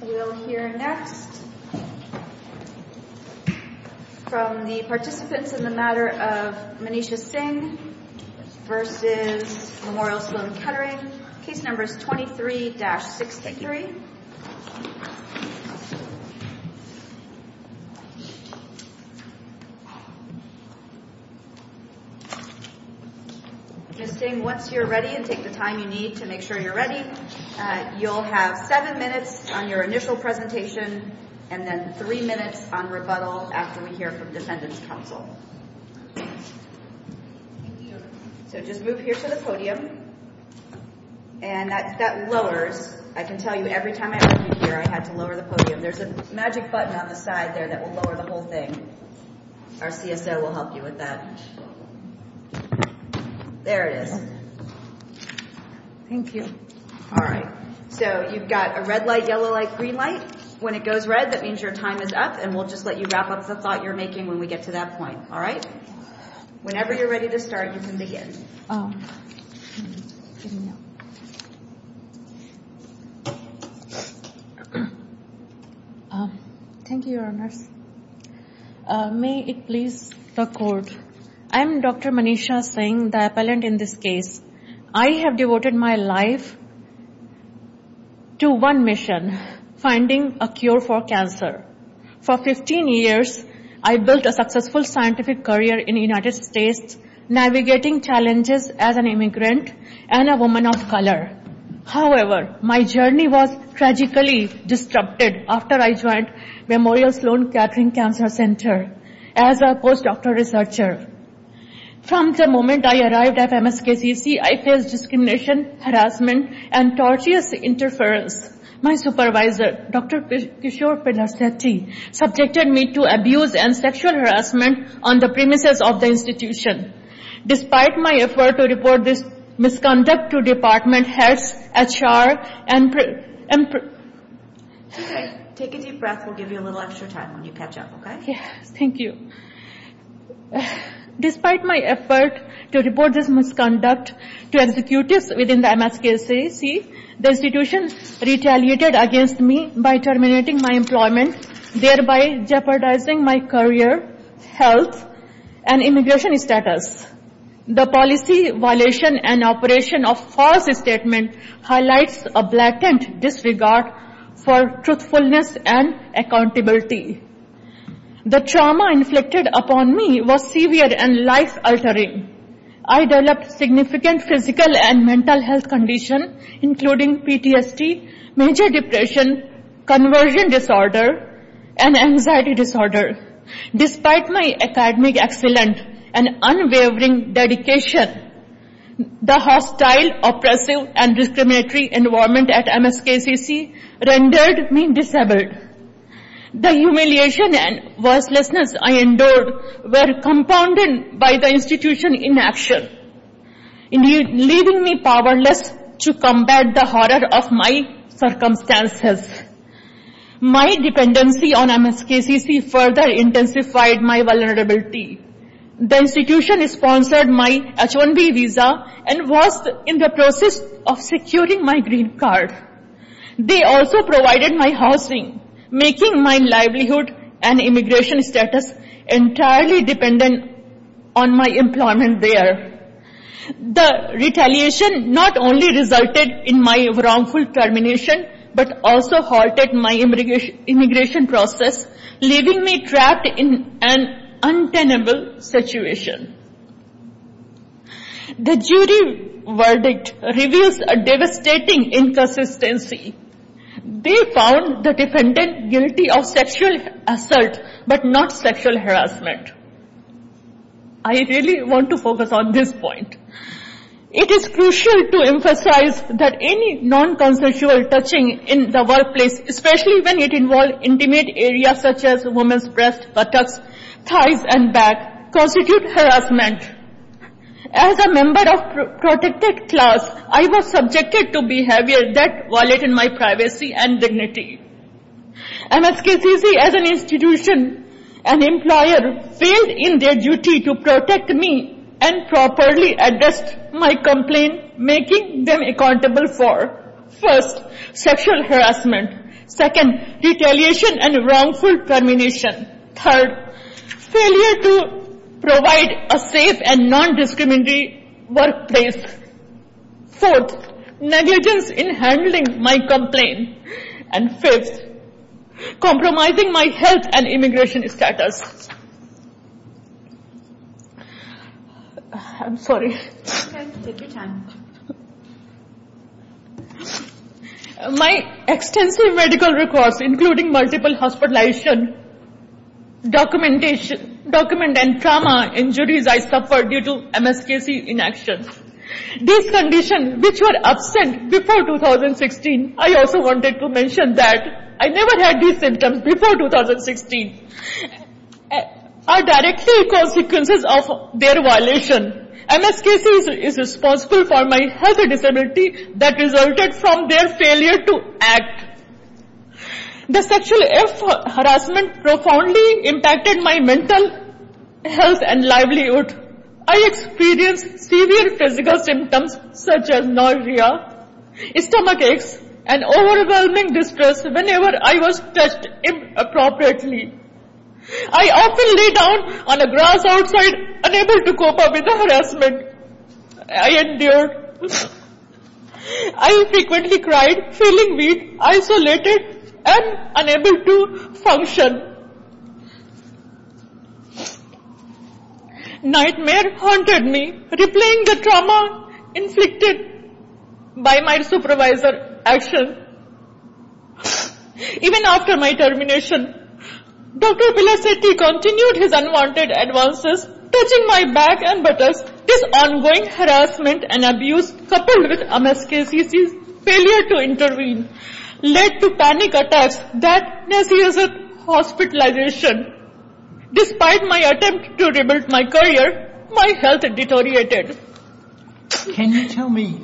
We'll hear next from the participants in the matter of Manisha Singh versus Memorial Sloan Kettering. Case number is 23-63. Ms. Singh, once you're ready and take the time you need to make sure you're ready, you'll have seven minutes on your initial presentation and then three minutes on rebuttal after we hear from Defendant's Counsel. So just move here to the podium and that lowers. I can tell you every time I was here I had to lower the podium. There's a magic button on the side there that will lower the whole thing. Our CSO will help you with that. There it is. Thank you. All right. So you've got a red light, yellow light, green light. When it goes red that means your time is up and we'll just let you wrap up the thought you're making when we get to that point. All right? Whenever you're ready to start you can begin. Thank you, Your Honors. May it please the court. I am Dr. Manisha Singh, the appellant in this case. I have devoted my life to one mission, finding a cure for cancer. For 15 years I built a successful scientific career in the United States navigating challenges as an immigrant and a woman of color. However, my journey was tragically disrupted after I joined Memorial Sloan Kettering Cancer Center as a postdoctoral researcher. From the moment I arrived at MSKCC I faced discrimination, harassment, and tortious interference. My supervisor, Dr. Kishore Pillarsethi, subjected me to abuse and sexual harassment on the premises of the institution. Despite my effort to report this misconduct to department heads, HR, and... Take a deep breath. We'll give you a little extra time when you catch up, okay? for truthfulness and accountability. The trauma inflicted upon me was severe and life-altering. I developed significant physical and mental health conditions including PTSD, major depression, conversion disorder, and anxiety disorder. Despite my academic excellence and unwavering dedication, the hostile, oppressive, and discriminatory environment at MSKCC rendered me disabled. The humiliation and worthlessness I endured were compounded by the institution's inaction, leaving me powerless to combat the horror of my circumstances. My dependency on MSKCC further intensified my vulnerability. The institution sponsored my H-1B visa and was in the process of securing my green card. They also provided my housing, making my livelihood and immigration status entirely dependent on my employment there. The retaliation not only resulted in my wrongful termination, but also halted my immigration process, leaving me trapped in an untenable situation. The jury verdict reveals a devastating inconsistency. They found the defendant guilty of sexual assault, but not sexual harassment. I really want to focus on this point. It is crucial to emphasize that any non-consensual touching in the workplace, especially when it involves intimate areas such as women's breasts, buttocks, thighs, and back, constitutes harassment. As a member of a protected class, I was subjected to behavior that violated my privacy and dignity. MSKCC, as an institution and employer, failed in their duty to protect me and properly address my complaint, making them accountable for 1. Sexual harassment 2. Retaliation and wrongful termination 3. Failure to provide a safe and non-discriminatory workplace 4. Negligence in handling my complaint 5. Compromising my health and immigration status My extensive medical records, including multiple hospitalizations, documents, and trauma injuries I suffered due to MSKCC inaction. These conditions, which were absent before 2016, are directly the consequences of their violation. MSKCC is responsible for my health disability that resulted from their failure to act. The sexual harassment profoundly impacted my mental health and livelihood. I experienced severe physical symptoms such as nausea, stomach aches, and overwhelming distress whenever I was touched inappropriately. I often lay down on a grass outside, unable to cope up with the harassment I endured. I frequently cried, feeling weak, isolated, and unable to function. Nightmare haunted me, replaying the trauma inflicted by my supervisor's actions. Even after my termination, Dr. Villasetti continued his unwanted advances, touching my back and buttocks. This ongoing harassment and abuse, coupled with MSKCC's failure to intervene, led to panic attacks, darkness, and hospitalization. Despite my attempt to rebuild my career, my health deteriorated. Can you tell me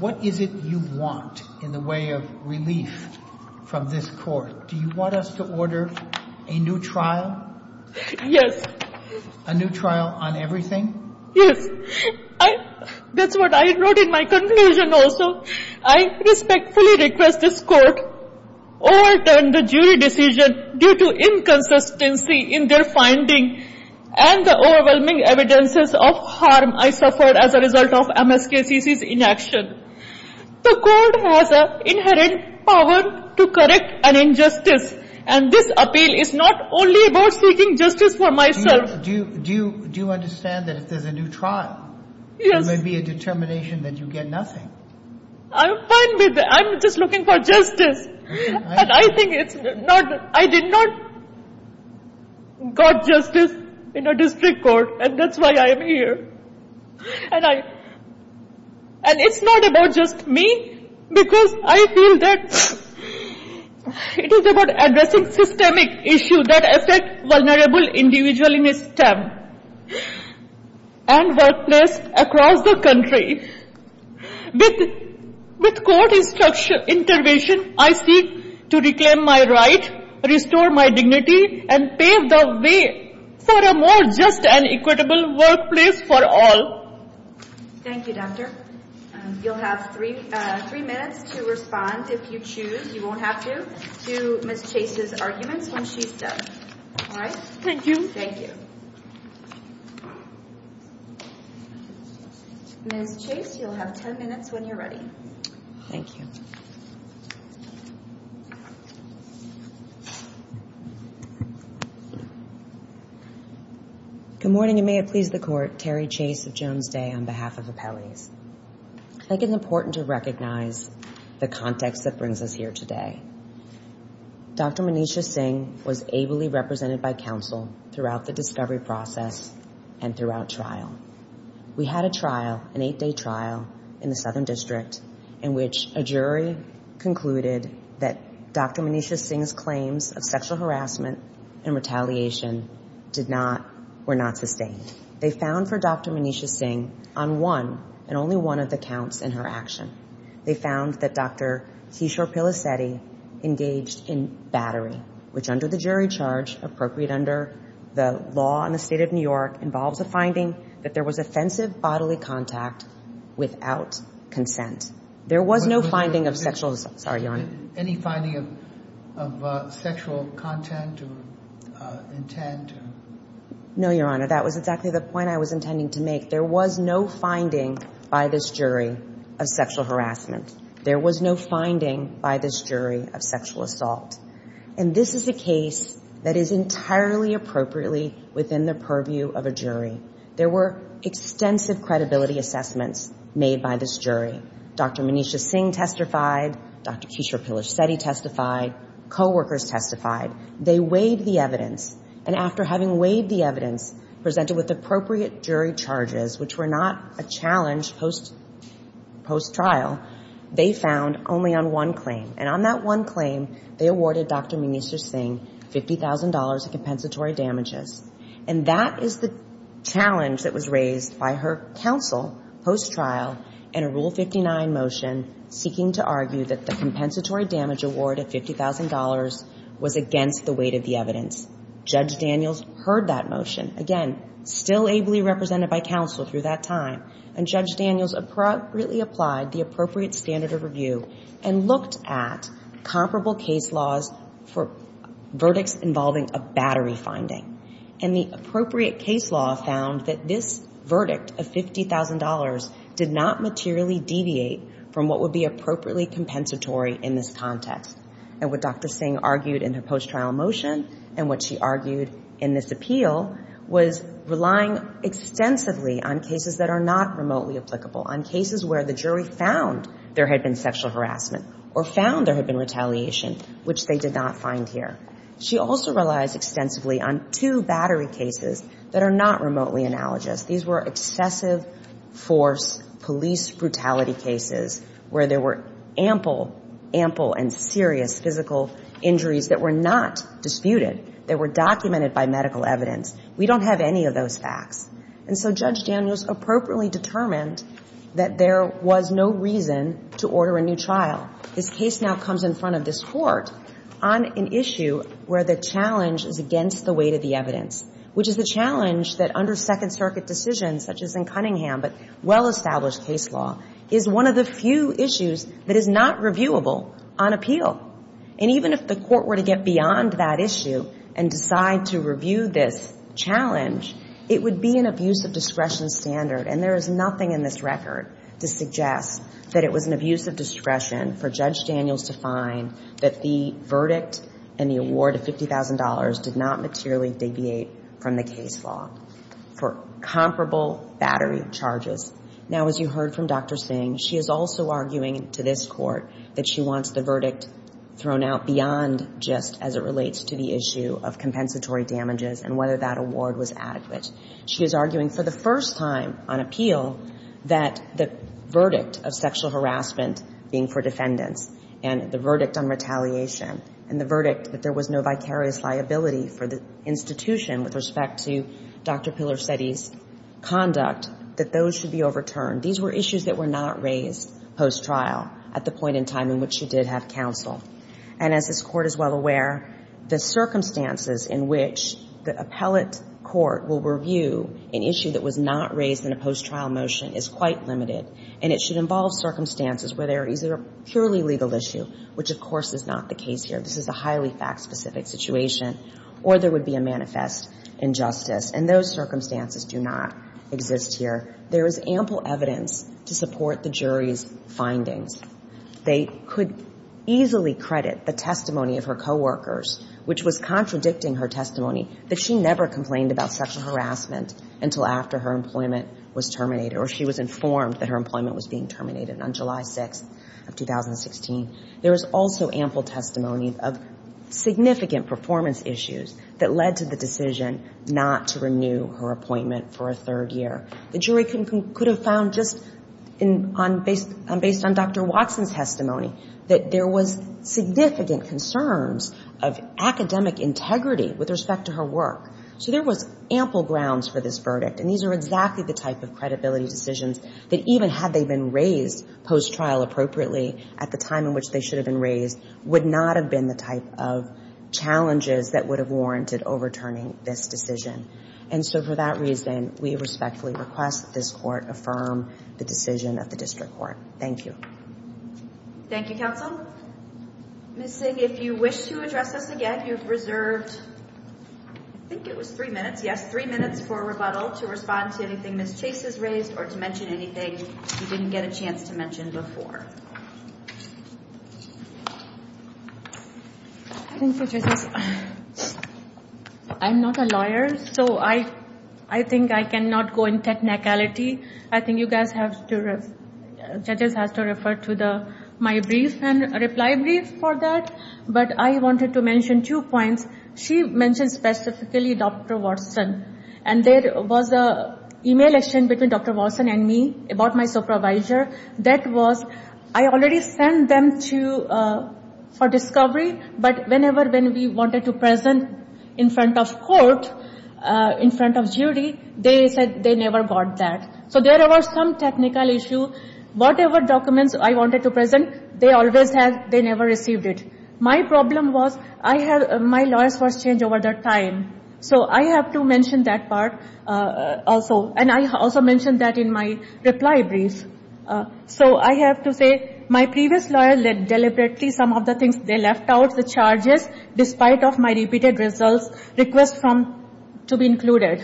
what is it you want in the way of relief from this court? Do you want us to order a new trial? Yes. A new trial on everything? Yes. That's what I wrote in my conclusion also. I respectfully request this court overturn the jury decision due to inconsistency in their finding and the overwhelming evidence of harm I suffered as a result of MSKCC's inaction. The court has an inherent power to correct an injustice, and this appeal is not only about seeking justice for myself. Do you understand that if there's a new trial, there may be a determination that you get nothing? I'm fine with it. I'm just looking for justice. I did not get justice in a district court, and that's why I'm here. And it's not about just me, because I feel that it is about addressing systemic issues that affect vulnerable individuals in STEM and workplaces across the country. With court intervention, I seek to reclaim my right, restore my dignity, and pave the way for a more just and equitable workplace for all. Thank you, Doctor. You'll have three minutes to respond if you choose. You won't have to, to Ms. Chase's arguments when she's done. Thank you. Ms. Chase, you'll have ten minutes when you're ready. Thank you. Good morning, and may it please the court. Terry Chase of Jones Day on behalf of Appellees. I think it's important to recognize the context that brings us here today. Dr. Manisha Singh was ably represented by counsel throughout the discovery process and throughout trial. We had a trial, an eight-day trial, in the Southern District in which a jury concluded that Dr. Manisha Singh's claims of sexual harassment and retaliation were not sustained. They found for Dr. Manisha Singh on one and only one of the counts in her action. They found that Dr. Kishore Pillaseddy engaged in battery, which under the jury charge, appropriate under the law in the state of New York, involves a finding that there was offensive bodily contact without consent. There was no finding of sexual – sorry, Your Honor. Any finding of sexual content or intent? No, Your Honor. That was exactly the point I was intending to make. There was no finding by this jury of sexual harassment. There was no finding by this jury of sexual assault. And this is a case that is entirely appropriately within the purview of a jury. There were extensive credibility assessments made by this jury. Dr. Manisha Singh testified. Dr. Kishore Pillaseddy testified. Coworkers testified. They weighed the evidence. And after having weighed the evidence presented with appropriate jury charges, which were not a challenge post-trial, they found only on one claim. And on that one claim, they awarded Dr. Manisha Singh $50,000 in compensatory damages. And that is the challenge that was raised by her counsel post-trial in a Rule 59 motion seeking to argue that the compensatory damage award of $50,000 was against the weight of the evidence. Judge Daniels heard that motion. Again, still ably represented by counsel through that time. And Judge Daniels appropriately applied the appropriate standard of review and looked at comparable case laws for verdicts involving a battery finding. And the appropriate case law found that this verdict of $50,000 did not materially deviate from what would be appropriately compensatory in this context. And what Dr. Singh argued in her post-trial motion and what she argued in this appeal was relying extensively on cases that are not remotely applicable, on cases where the jury found there had been sexual harassment or found there had been retaliation, which they did not find here. She also relies extensively on two battery cases that are not remotely analogous. These were excessive force police brutality cases where there were ample and serious physical injuries that were not disputed. They were documented by medical evidence. We don't have any of those facts. And so Judge Daniels appropriately determined that there was no reason to order a new trial. This case now comes in front of this Court on an issue where the challenge is against the weight of the evidence, which is the challenge that under Second Circuit decisions such as in Cunningham, but well-established case law, is one of the few issues that is not reviewable on appeal. And even if the Court were to get beyond that issue and decide to review this challenge, it would be an abuse of discretion standard. And there is nothing in this record to suggest that it was an abuse of discretion for Judge Daniels to find that the verdict and the award of $50,000 did not materially deviate from the case law for comparable battery charges. Now, as you heard from Dr. Singh, she is also arguing to this Court that she wants the verdict thrown out beyond just as it relates to the issue of compensatory damages and whether that award was adequate. She is arguing for the first time on appeal that the verdict of sexual harassment being for defendants and the verdict on retaliation and the verdict that there was no vicarious liability for the institution with respect to Dr. Pillarsetti's conduct, that those should be overturned. These were issues that were not raised post-trial at the point in time in which she did have counsel. And as this Court is well aware, the circumstances in which the appellate court will review an issue that was not raised in a post-trial motion is quite limited. And it should involve circumstances where there is a purely legal issue, which, of course, is not the case here. This is a highly fact-specific situation, or there would be a manifest injustice. And those circumstances do not exist here. There is ample evidence to support the jury's findings. They could easily credit the testimony of her coworkers, which was contradicting her testimony, that she never complained about sexual harassment until after her employment was terminated or she was informed that her employment was being terminated on July 6th of 2016. There is also ample testimony of significant performance issues that led to the decision not to renew her appointment for a third year. The jury could have found, just based on Dr. Watson's testimony, that there was significant concerns of academic integrity with respect to her work. So there was ample grounds for this verdict. And these are exactly the type of credibility decisions that, even had they been raised post-trial appropriately at the time in which they should have been raised, would not have been the type of challenges that would have warranted overturning this decision. And so for that reason, we respectfully request that this court affirm the decision of the district court. Thank you. Thank you, counsel. Ms. Singh, if you wish to address us again, you've reserved, I think it was three minutes, yes, three minutes for rebuttal to respond to anything Ms. Chase has raised or to mention anything you didn't get a chance to mention before. Thank you, judges. I'm not a lawyer, so I think I cannot go into technicality. I think judges have to refer to my brief and reply brief for that. But I wanted to mention two points. She mentioned specifically Dr. Watson, and there was an email exchange between Dr. Watson and me about my supervisor. That was, I already sent them to, for discovery, but whenever we wanted to present in front of court, in front of jury, they said they never got that. So there was some technical issue. Whatever documents I wanted to present, they always had, they never received it. My problem was, I had, my lawyers were changed over their time. So I have to mention that part also. And I also mentioned that in my reply brief. So I have to say, my previous lawyer deliberately, some of the things they left out, the charges, despite of my repeated results, request from, to be included,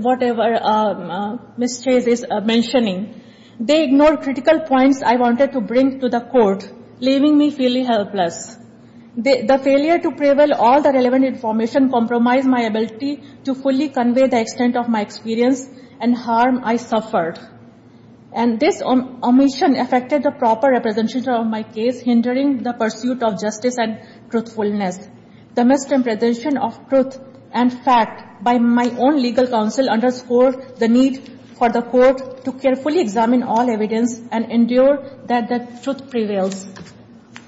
whatever Ms. Chase is mentioning. They ignored critical points I wanted to bring to the court, leaving me feeling helpless. The failure to prevail all the relevant information compromised my ability to fully convey the extent of my experience and harm I suffered. And this omission affected the proper representation of my case, hindering the pursuit of justice and truthfulness. The misrepresentation of truth and fact by my own legal counsel underscored the need for the court to carefully examine all evidence and endure that the truth prevails.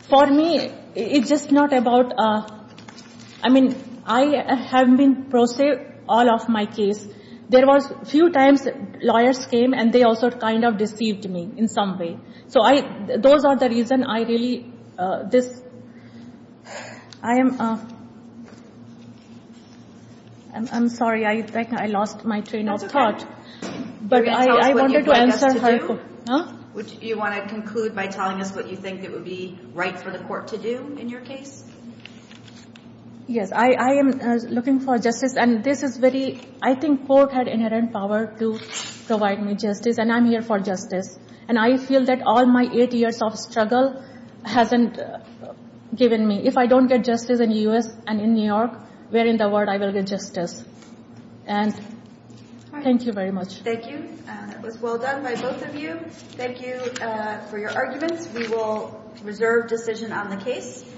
For me, it's just not about, I mean, I have been prosecuted all of my cases. There was a few times lawyers came and they also kind of deceived me in some way. So I, those are the reasons I really, this, I am, I'm sorry, I think I lost my train of thought. That's okay. But I wanted to answer her. Would you want to conclude by telling us what you think it would be right for the court to do in your case? Yes, I am looking for justice and this is very, I think court had inherent power to provide me justice and I'm here for justice. And I feel that all my eight years of struggle hasn't given me, if I don't get justice in the U.S. and in New York, where in the world I will get justice. And thank you very much. Thank you. That was well done by both of you. Thank you for your arguments. We will reserve decision on the case.